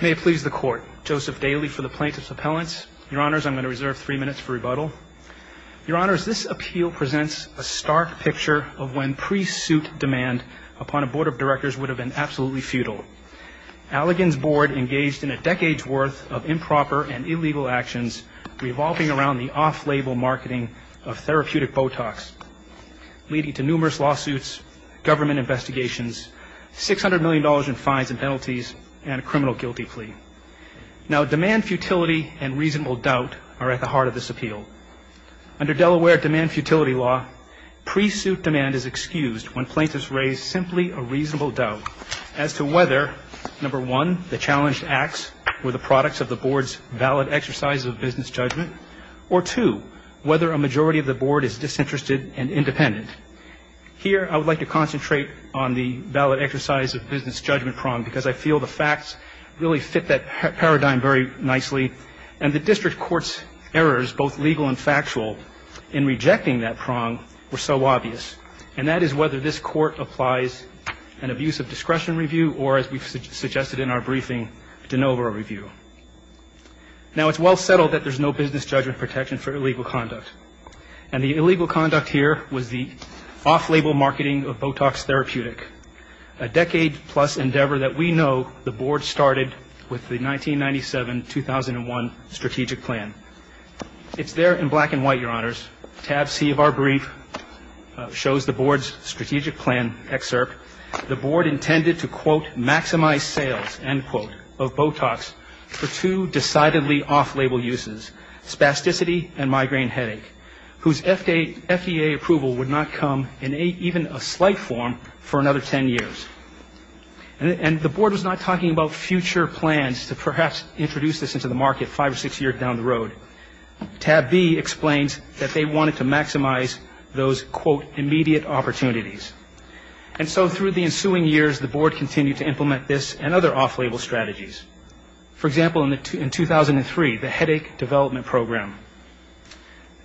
May it please the court. Joseph Daly for the plaintiff's appellants. Your honors, I'm going to reserve three minutes for rebuttal. Your honors, this appeal presents a stark picture of when pre-suit demand upon a board of directors would have been absolutely futile. Allegan's board engaged in a decade's worth of improper and illegal actions revolving around the off-label marketing of therapeutic Botox, leading to numerous lawsuits, government investigations, $600 million in fines and penalties, and a criminal guilty plea. Now, demand futility and reasonable doubt are at the heart of this appeal. Under Delaware demand futility law, pre-suit demand is excused when plaintiffs raise simply a reasonable doubt as to whether, number one, the challenged acts were the products of the board's valid exercises of business judgment, or two, whether a majority of the board is disinterested and independent. Here, I would like to concentrate on the valid exercise of business judgment prong because I feel the facts really fit that paradigm very nicely. And the district court's errors, both legal and factual, in rejecting that prong were so obvious. And that is whether this court applies an abuse of discretion review or, as we've suggested in our briefing, a de novo review. Now, it's well settled that there's no business judgment protection for illegal conduct. And the illegal conduct here was the off-label marketing of Botox therapeutic, a decade-plus endeavor that we know the board started with the 1997-2001 strategic plan. It's there in black and white, Your Honors. Tab C of our brief shows the board's strategic plan excerpt. The board intended to, quote, maximize sales, end quote, of Botox for two decidedly off-label uses, spasticity and migraine headache, whose FDA approval would not come in even a slight form for another ten years. And the board was not talking about future plans to perhaps introduce this into the market five or six years down the road. Tab B explains that they wanted to maximize those, quote, immediate opportunities. And so through the ensuing years, the board continued to implement this and other off-label strategies. For example, in 2003, the headache development program,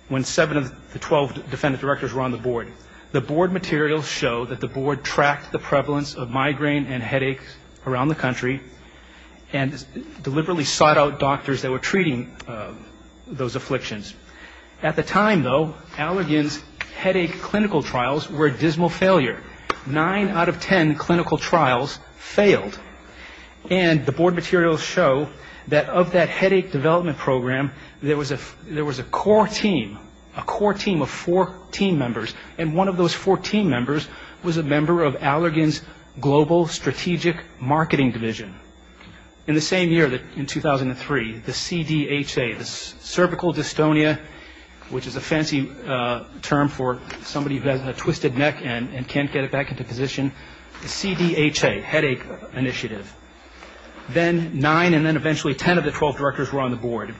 when seven of the 12 defendant directors were on the board, the board materials show that the board tracked the prevalence of migraine and headaches around the country and deliberately sought out doctors that were treating those afflictions. At the time, though, Allergan's clinical trials were a dismal failure. Nine out of ten clinical trials failed. And the board materials show that of that headache development program, there was a core team, a core team of four team members, and one of those four team members was a member of Allergan's Global Strategic Marketing Division. In the same year, in 2003, the CDHA, the cervical dystonia, which is a fancy term for somebody who has a twisted neck and can't get it back into position, the CDHA, headache initiative, then nine and then eventually ten of the 12 directors were on the board.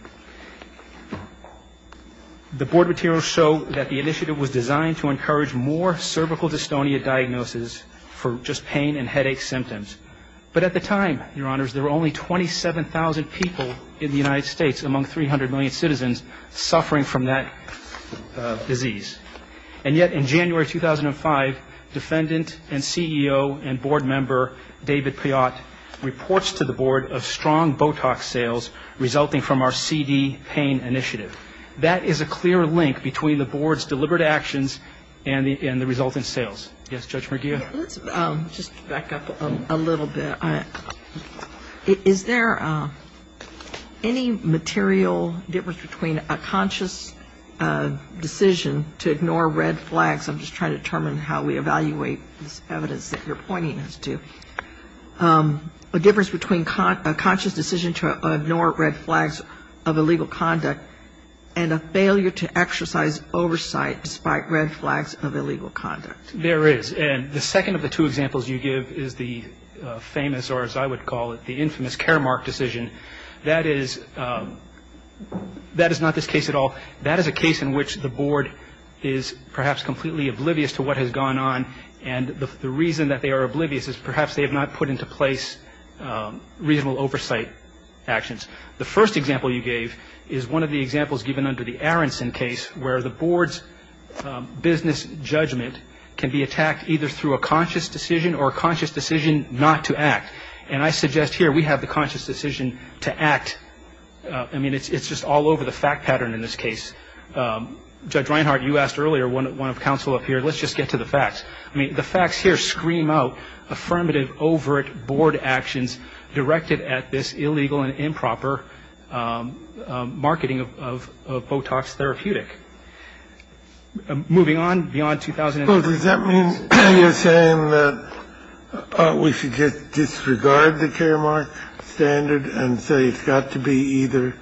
The board materials show that the initiative was designed to encourage more cervical dystonia diagnosis for just pain and headache symptoms. But at the time, Your Honors, there were only 27,000 people in the United States among 300 million citizens suffering from that disease. And yet in January 2005, defendant and CEO and board member David Piott reports to the board of strong Botox sales resulting from our CD pain initiative. That is a clear link between the board's deliberate actions and the result in sales. Yes, Judge Merguia? Let's just back up a little bit. Is there any material difference between a conscious decision to ignore red flags, I'm just trying to determine how we evaluate this evidence that you're pointing us to, a difference between a conscious decision to ignore red flags of illegal conduct and a failure to exercise oversight despite red flags of illegal conduct? There is. And the second of the two examples you give is the famous, or as I would call it, the infamous Caremark decision. That is not this case at all. That is a case in which the board is perhaps completely oblivious to what has gone on. And the reason that they are oblivious is perhaps they have not put into place reasonable oversight actions. The first example you gave is one of the examples given under the Aronson case where the board's business judgment can be attacked either through a conscious decision or a conscious decision not to act. And I suggest here we have the conscious decision to act. I mean, it's just all over the fact pattern in this case. Judge Reinhart, you asked earlier, one of counsel up here, let's just get to the facts. I mean, the facts here scream out affirmative overt board actions directed at this illegal and marketing of Botox therapeutic. Moving on beyond 2000. Well, does that mean you're saying that we should just disregard the Caremark standard and say it's got to be either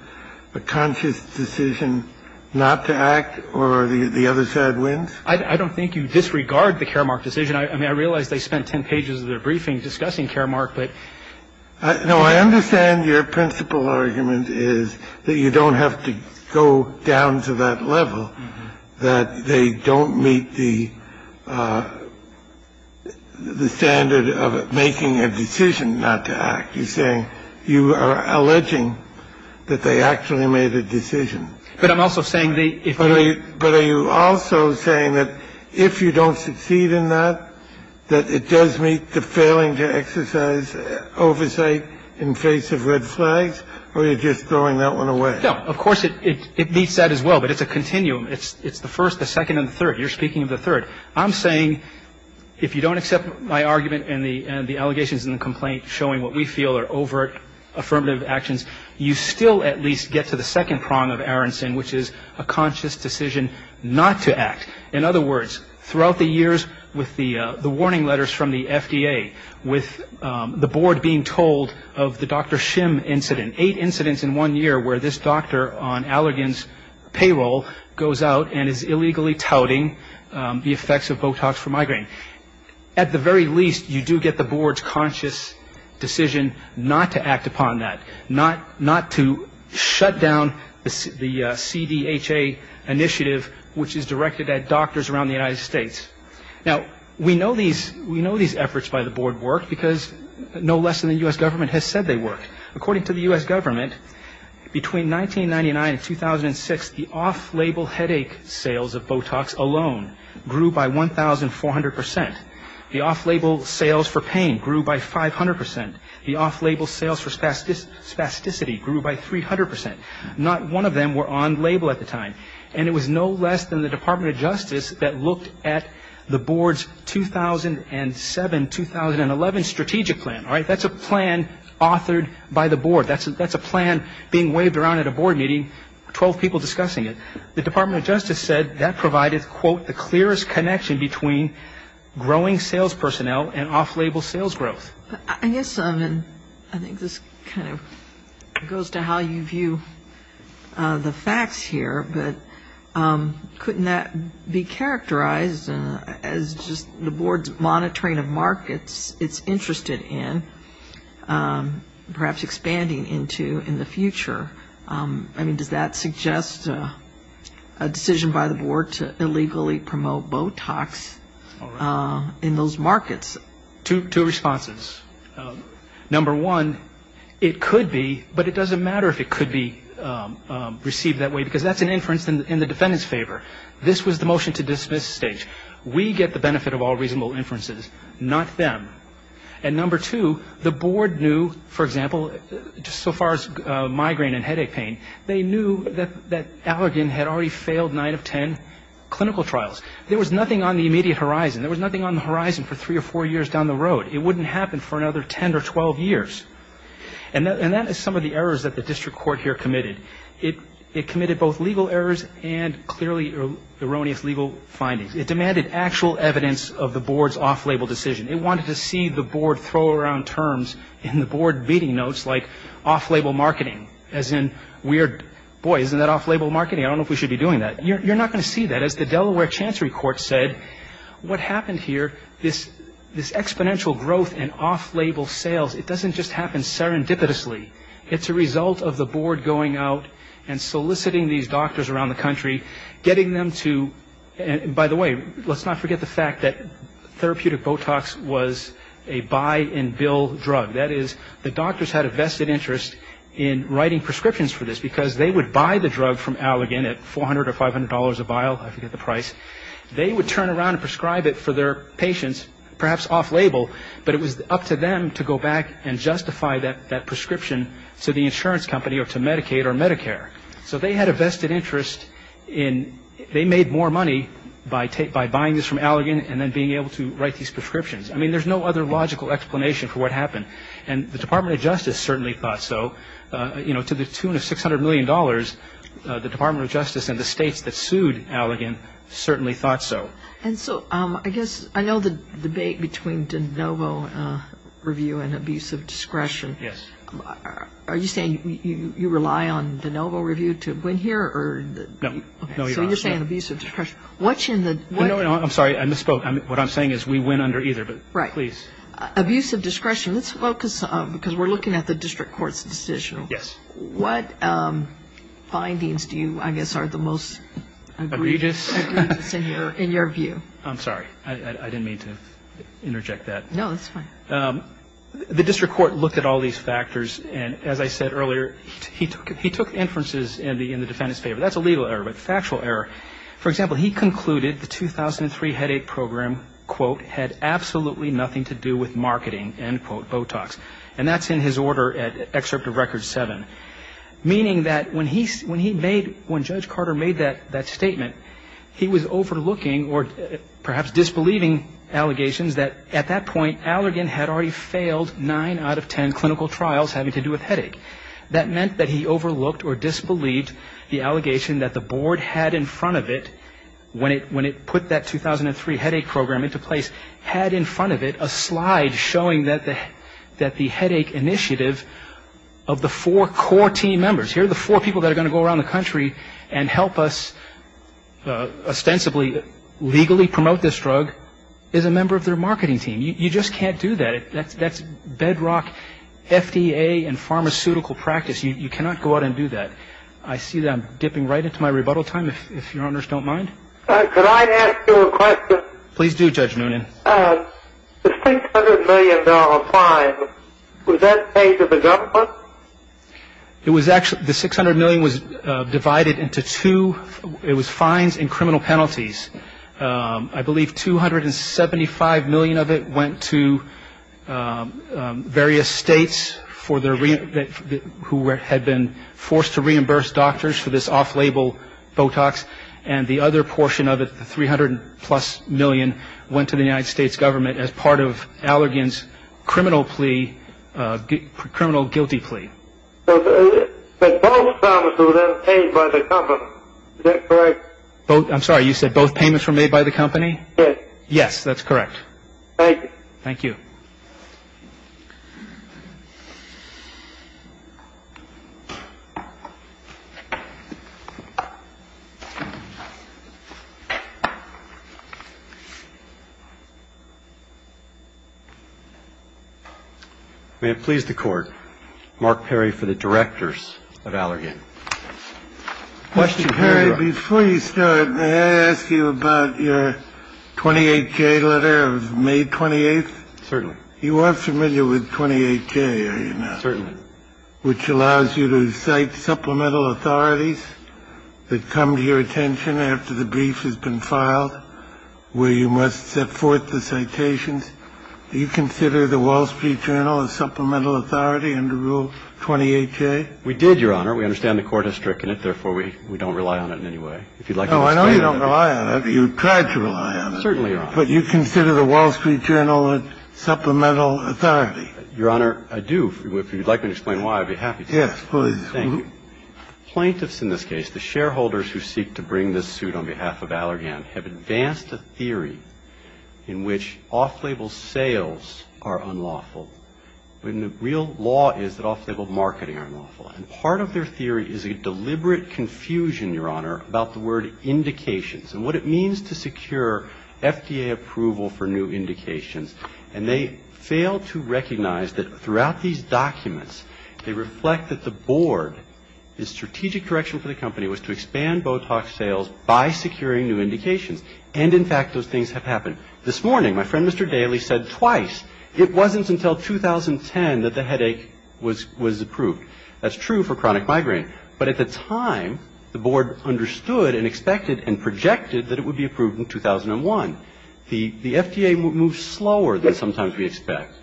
a conscious decision not to act or the other side wins? I don't think you disregard the Caremark decision. I mean, I realize they spent 10 pages of their briefing discussing Caremark, but... I understand your principal argument is that you don't have to go down to that level, that they don't meet the standard of making a decision not to act. You're saying you are alleging that they actually made a decision. But I'm also saying the... But are you also saying that if you don't succeed in that, that it does meet the failing to exercise oversight in face of red flags, or are you just throwing that one away? No. Of course it meets that as well, but it's a continuum. It's the first, the second, and the third. You're speaking of the third. I'm saying if you don't accept my argument and the allegations in the complaint showing what we feel are overt affirmative actions, you still at least get to the second prong of Aronson, which is a conscious decision not to act. In other words, throughout the years with the warning letters from the FDA, with the board being told of the Dr. Shim incident, eight incidents in one year where this doctor on Allergan's payroll goes out and is illegally touting the effects of Botox for migraine. At the very least, you do get the board's conscious decision not to act upon that, not to shut down the CDHA initiative, which is directed at doctors around the United States. Now, we know these efforts by the board work because no less than the U.S. government has said they work. According to the U.S. government, between 1999 and 2006, the off-label headache sales of Botox alone grew by 1,400 percent. The off-label sales for pain grew by 500 percent. The off-label sales for spasticity grew by 300 percent. Not one of them were on-label at the time, and it was no less than the Department of Justice that looked at the board's 2007-2011 strategic plan. All right? That's a plan authored by the board. That's a plan being waved around at a board meeting, 12 people discussing it. The Department of Justice said that provided, quote, the clearest connection between growing sales personnel and off-label sales growth. I guess, I mean, I think this kind of goes to how you view the facts here, but couldn't that be characterized as just the board's monitoring of markets it's interested in, perhaps expanding into in the future? I mean, does that suggest a decision by the board to Number one, it could be, but it doesn't matter if it could be received that way because that's an inference in the defendant's favor. This was the motion to dismiss stage. We get the benefit of all reasonable inferences, not them. And number two, the board knew, for example, just so far as migraine and headache pain, they knew that Allergan had already failed nine of ten clinical trials. There was nothing on the immediate horizon. There was nothing on the horizon for three or four years down the road. It wouldn't happen for another 10 or 12 years. And that is some of the errors that the district court here committed. It committed both legal errors and clearly erroneous legal findings. It demanded actual evidence of the board's off-label decision. It wanted to see the board throw around terms in the board meeting notes like off-label marketing, as in weird, boy, isn't that off-label marketing? I don't know if we should be doing that. You're not going to This exponential growth in off-label sales, it doesn't just happen serendipitously. It's a result of the board going out and soliciting these doctors around the country, getting them to, and by the way, let's not forget the fact that therapeutic Botox was a buy-and-bill drug. That is, the doctors had a vested interest in writing prescriptions for this because they would buy the drug from Allergan at $400 or $500 a vial. I forget the price. They would turn around and prescribe it for their patients, perhaps off-label, but it was up to them to go back and justify that prescription to the insurance company or to Medicaid or Medicare. So they had a vested interest in, they made more money by buying this from Allergan and then being able to write these prescriptions. I mean, there's no other logical explanation for what happened, and the Department of Justice certainly thought so. You know, to the tune of $600 million, the Department of Justice and the states that sued between de novo review and abusive discretion, are you saying you rely on de novo review to win here? No. Okay. So you're saying abusive discretion. What's in the... No, no, no. I'm sorry. I misspoke. What I'm saying is we win under either, but please. Right. Abusive discretion. Let's focus, because we're looking at the district court's decision. Yes. What findings do you, I guess, are the most... Egregious? Egregious in your view? I'm sorry. I didn't mean to interject that. No, that's fine. The district court looked at all these factors, and as I said earlier, he took inferences in the defendant's favor. That's a legal error, but factual error. For example, he concluded the 2003 headache program, quote, had absolutely nothing to do with marketing, end quote, Botox. And that's in his order at excerpt of record seven. Meaning that when Judge Carter made that statement, he was overlooking or perhaps disbelieving allegations that at that point, Allergan had already failed nine out of ten clinical trials having to do with headache. That meant that he overlooked or disbelieved the allegation that the board had in front of it when it put that 2003 headache program into place, had in front of it a slide showing that the headache initiative of the four core team members, here are the four people that are going to go around the country and help us ostensibly legally promote this drug, is a member of their marketing team. You just can't do that. That's bedrock FDA and pharmaceutical practice. You cannot go out and do that. I see that I'm dipping right into my rebuttal time, if your honors don't mind. Could I ask you a question? Please do, Judge Noonan. The $600 million fine, was that paid to the government? It was actually, the $600 million was divided into two, it was fines and criminal penalties. I believe $275 million of it went to various states for their, who had been forced to reimburse doctors for this off-label Botox, and the other portion of it, the $300 plus million, went to the United States government as part of Allergan's criminal plea, criminal guilty plea. But both of them were paid by the company, is that correct? I'm sorry, you said both payments were made by the company? Yes. Yes, that's correct. Thank you. Thank you. May it please the Court, Mark Perry for the directors of Allergan. Mr. Perry, before you start, may I ask you about your 28-K letter of May 28th? Certainly. You are familiar with 28-K, are you not? Certainly. The 28-K, which allows you to cite supplemental authorities that come to your attention after the brief has been filed, where you must set forth the citations, do you consider the Wall Street Journal a supplemental authority under Rule 28-K? We did, Your Honor. We understand the Court has stricken it, therefore we don't rely on it in any way. If you would like to explain. No, I know you don't rely on it, you tried to rely on it. Certainly, Your Honor. But you consider the Wall Street Journal a supplemental authority? Your Honor, I do. If you'd like me to explain why, I'd be happy to. Yes, please. Thank you. Plaintiffs in this case, the shareholders who seek to bring this suit on behalf of Allergan, have advanced a theory in which off-label sales are unlawful when the real law is that off-label marketing are unlawful. And part of their theory is a deliberate confusion, Your Honor, about the word indications and what it means to secure FDA approval for new indications. And they fail to recognize that throughout these documents, they reflect that the Board, the strategic correction for the company, was to expand Botox sales by securing new indications. And in fact, those things have happened. This morning, my friend Mr. Daly said twice, it wasn't until 2010 that the headache was approved. That's true for chronic migraine. But at the time, the Board understood and expected and projected that it would be approved in 2001. The FDA moved slower than sometimes we expect.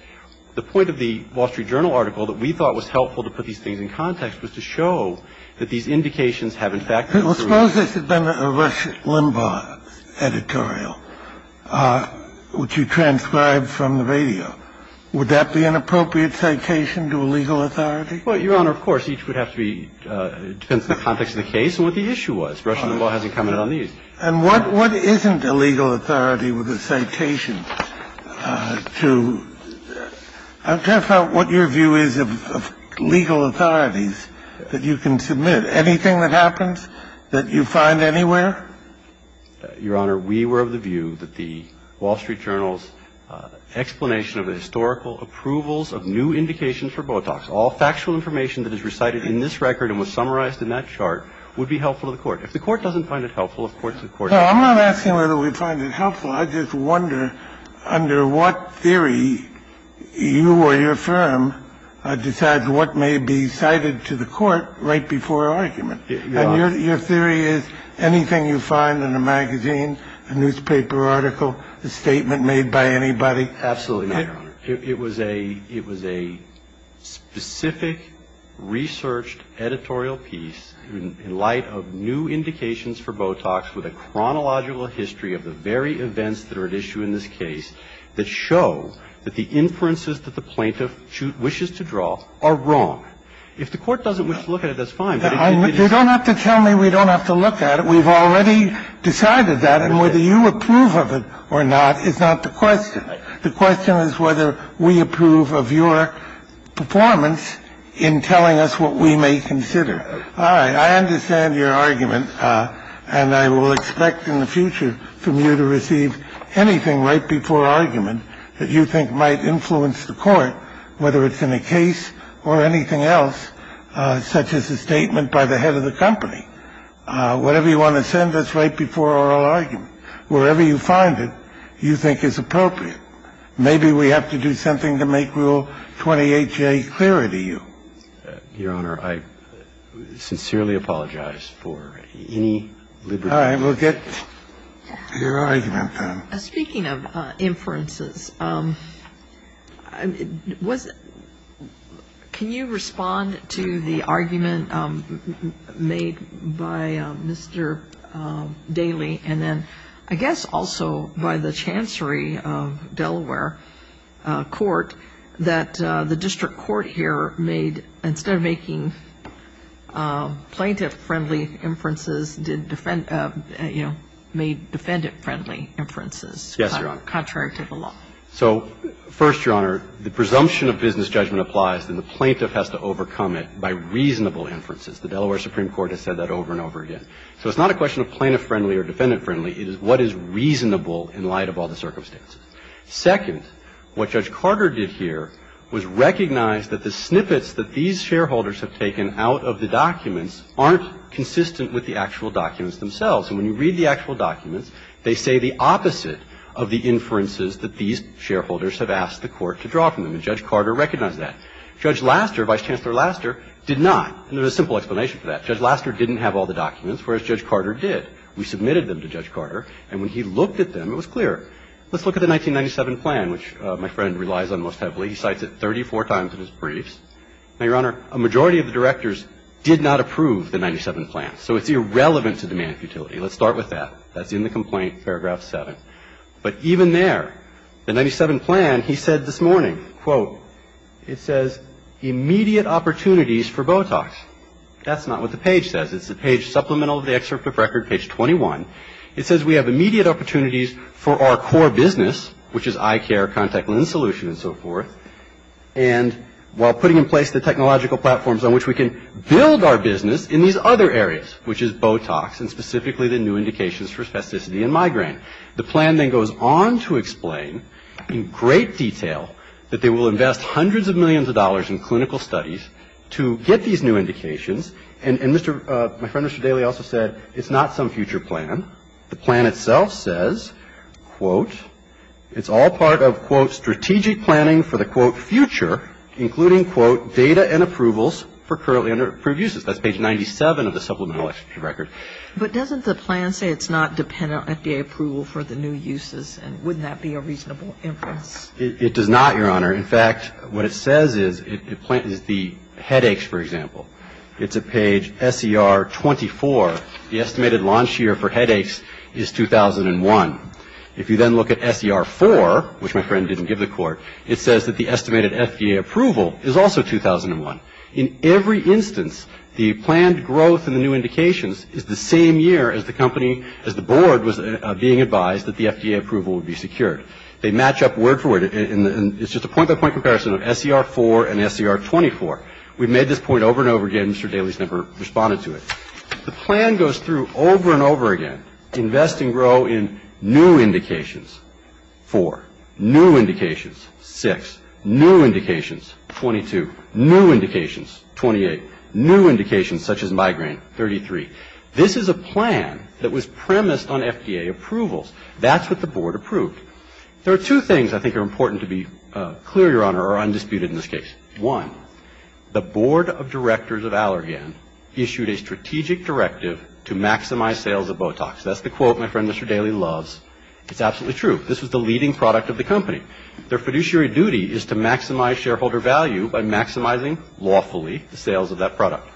The point of the Wall Street Journal article that we thought was helpful to put these things in context was to show that these indications have, in fact, been proven. Suppose this had been a Rush Limbaugh editorial, which you transcribed from the radio. Would that be an appropriate citation to a legal authority? Well, Your Honor, of course. Each would have to be – depends on the context of the case and what the issue was. Rush Limbaugh hasn't commented on these. And what isn't a legal authority with a citation to – I'm trying to find out what your view is of legal authorities that you can submit. Anything that happens that you find anywhere? Your Honor, we were of the view that the Wall Street Journal's explanation of the historical approvals of new indications for Botox, all factual information that is recited in this record and was summarized in that chart, would be helpful to the Court. If the Court doesn't find it helpful, of course, the Court – No, I'm not asking whether we find it helpful. I just wonder under what theory you or your firm decides what may be cited to the Court right before argument. And your theory is anything you find in a magazine, a newspaper article, a statement made by anybody? Absolutely, Your Honor. It was a – it was a specific, researched editorial piece in light of new indications for Botox with a chronological history of the very events that are at issue in this case that show that the inferences that the plaintiff wishes to draw are wrong. If the Court doesn't wish to look at it, that's fine. But if it is – You don't have to tell me we don't have to look at it. We've already decided that. And whether you approve of it or not is not the question. The question is whether we approve of your performance in telling us what we may consider. All right. I understand your argument, and I will expect in the future from you to receive anything right before argument that you think might influence the Court, whether it's in a case or anything else, such as a statement by the head of the company. Whatever you want to send us right before oral argument, wherever you find it, you can send it to us. And we'll see what we think is appropriate. Maybe we have to do something to make Rule 28J clearer to you. Your Honor, I sincerely apologize for any liberty. All right. We'll get to your argument, then. Speaking of inferences, can you respond to the argument made by Mr. Daley and then, I guess, also by the Chancery of Delaware Court that the district court here made, instead of making plaintiff-friendly inferences, made defendant-friendly inferences? Yes, Your Honor. Contrary to the law. So first, Your Honor, the presumption of business judgment applies, and the plaintiff has to overcome it by reasonable inferences. The Delaware Supreme Court has said that over and over again. So it's not a question of plaintiff-friendly or defendant-friendly. It is what is reasonable in light of all the circumstances. Second, what Judge Carter did here was recognize that the snippets that these shareholders have taken out of the documents aren't consistent with the actual documents themselves. And when you read the actual documents, they say the opposite of the inferences that these shareholders have asked the court to draw from them. And Judge Carter recognized that. Judge Laster, Vice Chancellor Laster, did not. And there's a simple explanation for that. Judge Laster didn't have all the documents, whereas Judge Carter did. We submitted them to Judge Carter. And when he looked at them, it was clear. Let's look at the 1997 plan, which my friend relies on most heavily. He cites it 34 times in his briefs. Now, Your Honor, a majority of the directors did not approve the 1997 plan. So it's irrelevant to demand futility. Let's start with that. That's in the complaint, paragraph 7. But even there, the 1997 plan, he said this morning, quote, it says immediate opportunities for Botox. That's not what the page says. It's the page supplemental to the excerpt of record, page 21. It says we have immediate opportunities for our core business, which is eye care, contact lens solution, and so forth. And while putting in place the technological platforms on which we can build our business in these other areas, which is Botox, and specifically the new indications for spasticity and migraine. The plan then goes on to explain in great detail that they will invest hundreds of millions of dollars in clinical studies to get these new indications. And my friend, Mr. Daly, also said it's not some future plan. The plan itself says, quote, it's all part of, quote, strategic planning for the, quote, future, including, quote, data and approvals for currently under-approved uses. That's page 97 of the supplemental record. But doesn't the plan say it's not dependent on FDA approval for the new uses? And wouldn't that be a reasonable inference? It does not, Your Honor. In fact, what it says is the headaches, for example. It's at page SER24. The estimated launch year for headaches is 2001. If you then look at SER4, which my friend didn't give the court, it says that the estimated FDA approval is also 2001. In every instance, the planned growth in the new indications is the same year as the company, as the board was being advised that the FDA approval would be secured. They match up word for word, and it's just a point-by-point comparison of SER4 and SER24. We've made this point over and over again. Mr. Daly's never responded to it. The plan goes through over and over again. Invest and grow in new indications, 4. New indications, 6. New indications, 22. New indications, 28. New indications, such as migraine, 33. This is a plan that was premised on FDA approvals. That's what the board approved. There are two things I think are important to be clear, Your Honor, or undisputed in this case. One, the board of directors of Allergan issued a strategic directive to maximize sales of Botox. That's the quote my friend Mr. Daly loves. It's absolutely true. This was the leading product of the company. Their fiduciary duty is to maximize shareholder value by maximizing lawfully the sales of that product.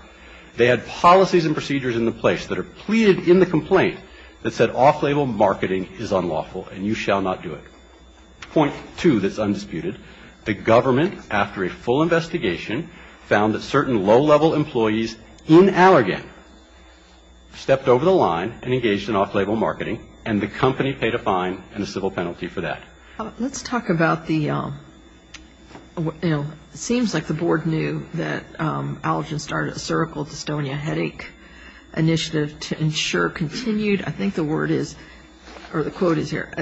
They had policies and procedures in place that are pleaded in the complaint that said off-label marketing is unlawful and you shall not do it. Point two that's undisputed. The government, after a full investigation, found that certain low-level employees in Allergan stepped over the line and engaged in off-label marketing and the company paid a fine and a civil penalty for that. Let's talk about the, you know, it seems like the board knew that Allergan started a cervical dystonia headache initiative to ensure continued, I think the word is, or continued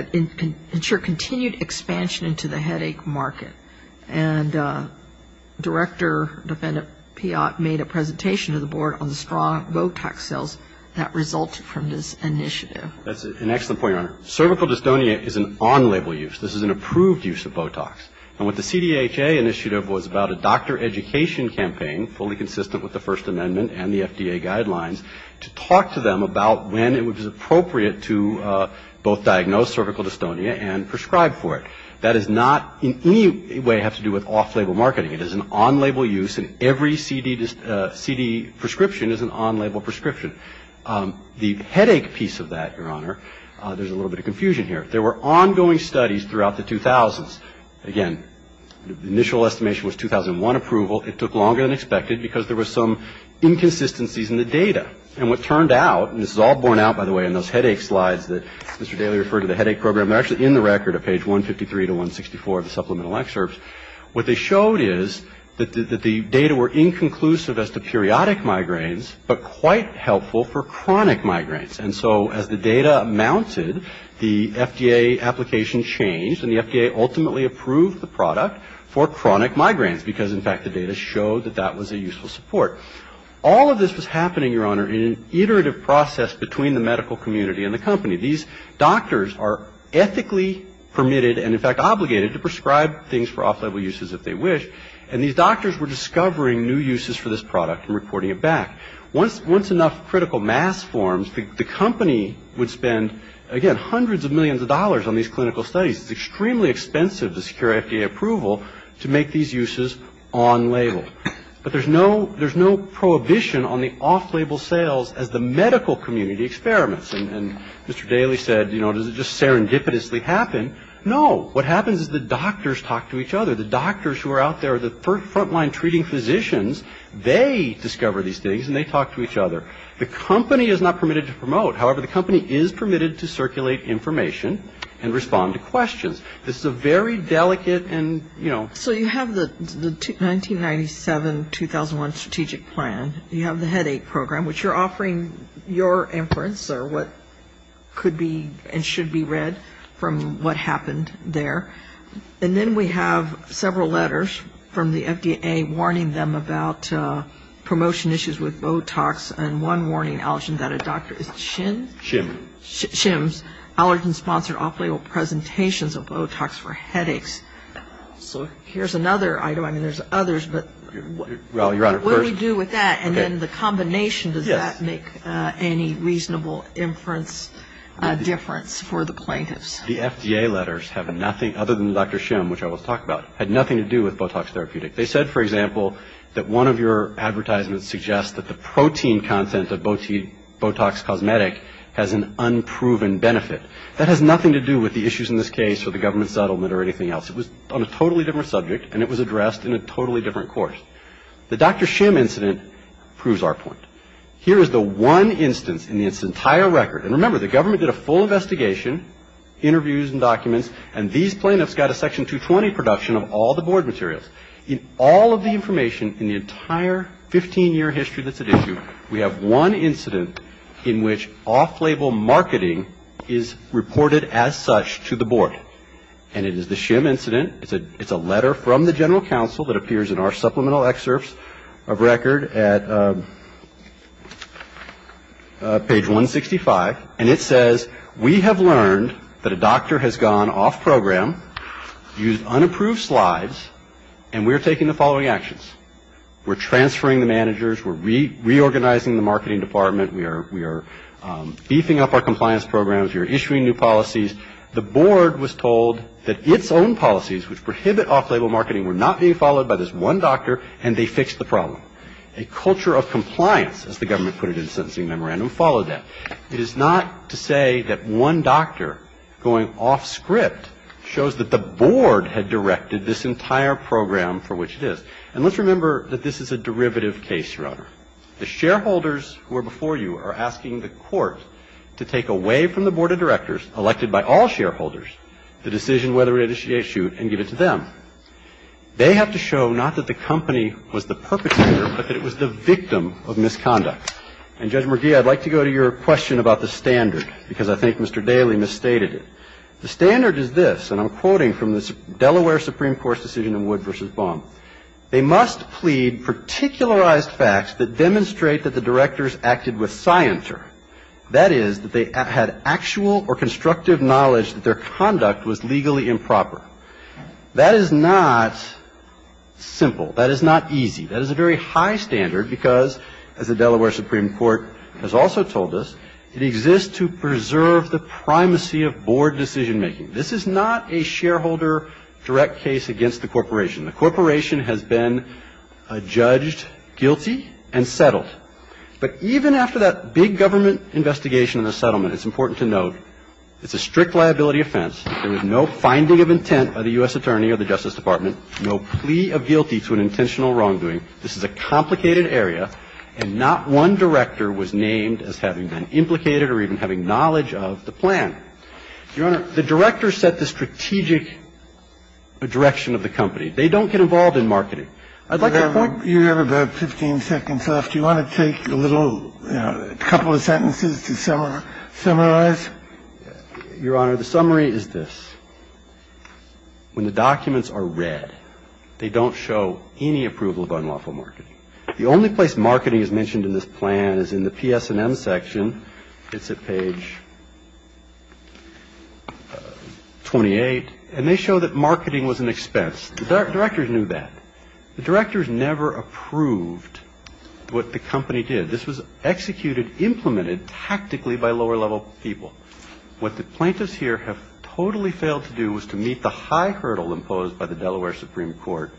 expansion into the headache market. And director defendant Piott made a presentation to the board on the strong Botox sales that resulted from this initiative. That's an excellent point, Your Honor. Cervical dystonia is an on-label use. This is an approved use of Botox. And what the CDHA initiative was about a doctor education campaign fully consistent with the First Amendment and the FDA guidelines to talk to them about when it was appropriate to both diagnose cervical dystonia and prescribe for it. That does not in any way have to do with off-label marketing. It is an on-label use and every CD prescription is an on-label prescription. The headache piece of that, Your Honor, there's a little bit of confusion here. There were ongoing studies throughout the 2000s. Again, the initial estimation was 2001 approval. It took longer than expected because there were some inconsistencies in the data. And what turned out, and this is all borne out, by the way, in those headache slides that Mr. Daly referred to the headache program. They're actually in the record at page 153 to 164 of the supplemental excerpts. What they showed is that the data were inconclusive as to periodic migraines, but quite helpful for chronic migraines. And so as the data mounted, the FDA application changed and the FDA ultimately approved the product for chronic migraines because, in fact, the data showed that that was a useful support. All of this was happening, Your Honor, in an iterative process between the medical community and the company. These doctors are ethically permitted and, in fact, obligated to prescribe things for off-label uses if they wish. And these doctors were discovering new uses for this product and reporting it back. Once enough critical mass forms, the company would spend, again, hundreds of millions of dollars on these clinical studies. It's extremely expensive to secure FDA approval to make these uses on-label. But there's no prohibition on the off-label sales as the medical community experiments. And Mr. Daly said, you know, does it just serendipitously happen? No. What happens is the doctors talk to each other. The doctors who are out there are the front-line treating physicians. They discover these things and they talk to each other. The company is not permitted to promote. However, the company is permitted to circulate information and respond to questions. This is a very delicate and, you know. So you have the 1997-2001 strategic plan. You have the headache program, which you're offering your inference or what could be and should be read from what happened there. And then we have several letters from the FDA warning them about promotion issues with Botox and one warning allergen that a doctor is shim. Shim. Shims, allergen-sponsored off-label presentations of Botox for headaches. So here's another item. I mean, there's others, but what do we do with that? And then the combination, does that make any reasonable inference difference for the plaintiffs? The FDA letters have nothing, other than Dr. Shim, which I will talk about, had nothing to do with Botox therapeutic. They said, for example, that one of your advertisements suggests that the protein content of Botox cosmetic has an unproven benefit. That has nothing to do with the issues in this case or the government settlement or anything else. It was on a totally different subject, and it was addressed in a totally different course. The Dr. Shim incident proves our point. Here is the one instance in this entire record. And remember, the government did a full investigation, interviews and documents, and these plaintiffs got a section 220 production of all the board materials. In all of the information in the entire 15-year history that's at issue, we have one incident in which off-label marketing is reported as such to the board. And it is the Shim incident. It's a letter from the general counsel that appears in our supplemental excerpts of record at page 165. And it says, we have learned that a doctor has gone off program, used unapproved slides, and we are taking the following actions. We're transferring the managers. We're reorganizing the marketing department. We are beefing up our compliance programs. We are issuing new policies. The board was told that its own policies, which prohibit off-label marketing, were not being followed by this one doctor, and they fixed the problem. A culture of compliance, as the government put it in the sentencing memorandum, followed that. It is not to say that one doctor going off script shows that the board had directed this entire program for which it is. And let's remember that this is a derivative case, Your Honor. The shareholders who are before you are asking the court to take away from the board of directors elected by all shareholders the decision whether it is issued and give it to them. They have to show not that the company was the perpetrator, but that it was the victim of misconduct. And Judge McGee, I'd like to go to your question about the standard, because I think Mr. Daly misstated it. The standard is this, and I'm quoting from the Delaware Supreme Court's decision in Wood v. Baum. They must plead particularized facts that demonstrate that the directors acted with scienter. That is, that they had actual or constructive knowledge that their conduct was legally improper. That is not simple. That is not easy. That is a very high standard because, as the Delaware Supreme Court has also told us, it exists to preserve the primacy of board decision making. This is not a shareholder direct case against the corporation. The corporation has been judged guilty and settled. But even after that big government investigation and the settlement, it's important to note it's a strict liability offense. There was no finding of intent by the U.S. Attorney or the Justice Department, no plea of guilty to an intentional wrongdoing. This is a complicated area. And not one director was named as having been implicated or even having knowledge of the plan. Your Honor, the directors set the strategic direction of the company. They don't get involved in marketing. I'd like to point to you. You have about 15 seconds left. Do you want to take a little couple of sentences to summarize? Your Honor, the summary is this. When the documents are read, they don't show any approval of unlawful marketing. The only place marketing is mentioned in this plan is in the PS&M section. It's at page 28. And they show that marketing was an expense. The directors knew that. The directors never approved what the company did. This was executed, implemented tactically by lower-level people. What the plaintiffs here have totally failed to do was to meet the high hurdle imposed by the Delaware Supreme Court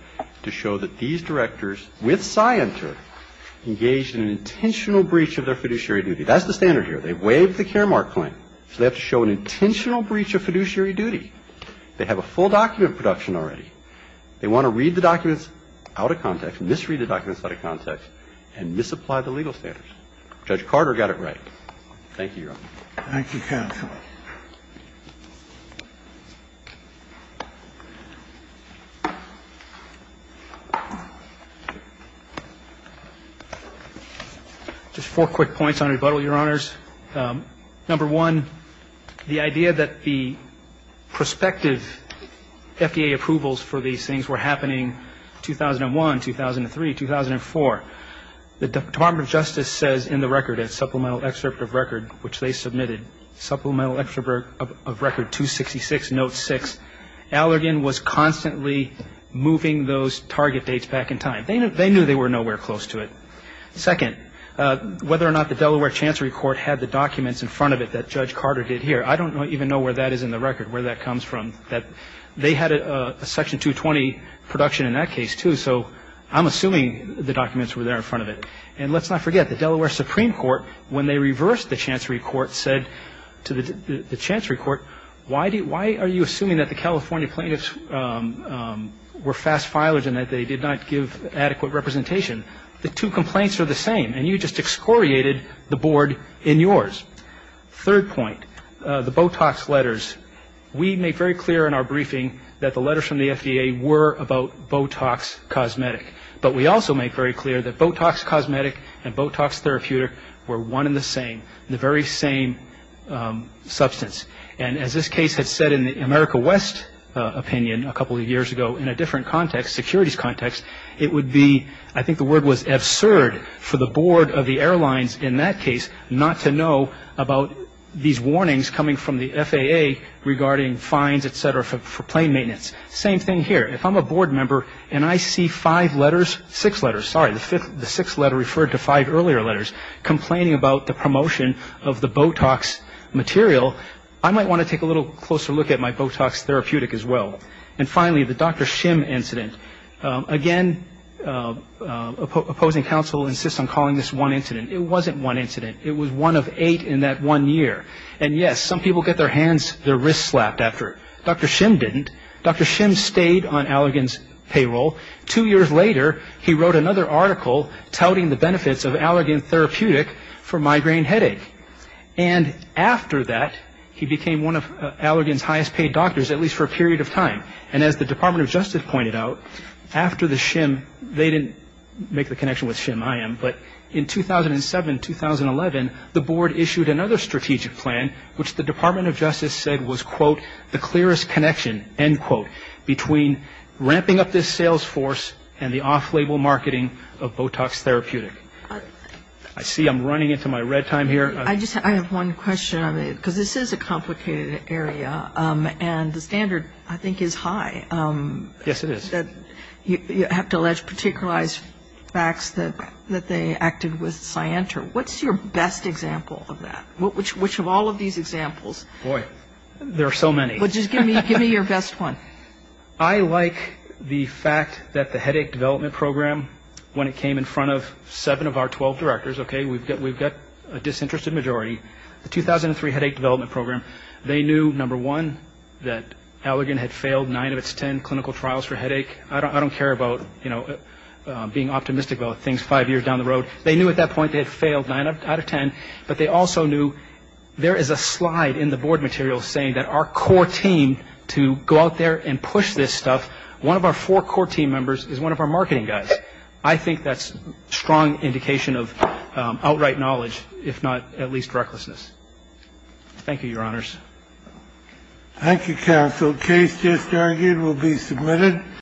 to show that these directors, with scienter, engaged in an intentional breach of their fiduciary duty. That's the standard here. They waived the Caremark Claim. So they have to show an intentional breach of fiduciary duty. They have a full document production already. They want to read the documents out of context, misread the documents out of context, and misapply the legal standards. Judge Carter got it right. Thank you, Your Honor. Thank you, counsel. Just four quick points on rebuttal, Your Honors. Number one, the idea that the prospective FDA approvals for these things were happening 2001, 2003, 2004. The Department of Justice says in the record, in Supplemental Excerpt of Record, which they submitted, Supplemental Excerpt of Record 266, Note 6, Allergan was constantly moving those target dates back in time. They knew they were nowhere close to it. Second, whether or not the Delaware Chancery Court had the documents in front of it that Judge Carter did here, I don't even know where that is in the record, where that comes from. They had a Section 220 production in that case, too. So I'm assuming the documents were there in front of it. And let's not forget, the Delaware Supreme Court, when they reversed the Chancery Court, said to the Chancery Court, why are you assuming that the California plaintiffs were fast filers and that they did not give adequate representation? The two complaints are the same, and you just excoriated the board in yours. Third point, the Botox letters. We make very clear in our briefing that the letters from the FDA were about Botox cosmetic. But we also make very clear that Botox cosmetic and Botox therapeutic were one and the same, the very same substance. And as this case had said in the America West opinion a couple of years ago in a different securities context, it would be, I think the word was absurd for the board of the airlines in that case not to know about these warnings coming from the FAA regarding fines, etc., for plane maintenance. Same thing here. If I'm a board member and I see five letters, six letters, sorry, the sixth letter referred to five earlier letters, complaining about the promotion of the Botox material, I might want to take a little closer look at my Botox therapeutic as well. And finally, the Dr. Shim incident. Again, opposing counsel insists on calling this one incident. It wasn't one incident. It was one of eight in that one year. And yes, some people get their hands, their wrists slapped after. Dr. Shim didn't. Dr. Shim stayed on Allergan's payroll. Two years later, he wrote another article touting the benefits of Allergan therapeutic for migraine headache. And after that, he became one of Allergan's highest paid doctors, at least for a period of time. And as the Department of Justice pointed out, after the Shim, they didn't make the connection with Shim. I am. But in 2007, 2011, the board issued another strategic plan, which the Department of Justice said was, quote, the clearest connection, end quote, between ramping up this sales force and the off-label marketing of Botox therapeutic. I see I'm running into my red time here. I just have one question on it, because this is a complicated area. And the standard, I think, is high. Yes, it is. That you have to allege particularized facts that they acted with Cyanter. What's your best example of that? Which of all of these examples? Boy, there are so many. Well, just give me your best one. I like the fact that the headache development program, when it came in front of seven of our 12 directors, OK, we've got a disinterested majority. The 2003 headache development program, they knew, number one, that Allergan had failed nine of its 10 clinical trials for headache. I don't care about being optimistic about things five years down the road. They knew at that point they had failed nine out of 10. But they also knew there is a slide in the board material saying that our core team to go out there and push this stuff, one of our four core team members is one of our marketing guys. I think that's a strong indication of outright knowledge, if not at least recklessness. Thank you, Your Honors. Thank you, counsel. The case just argued will be submitted.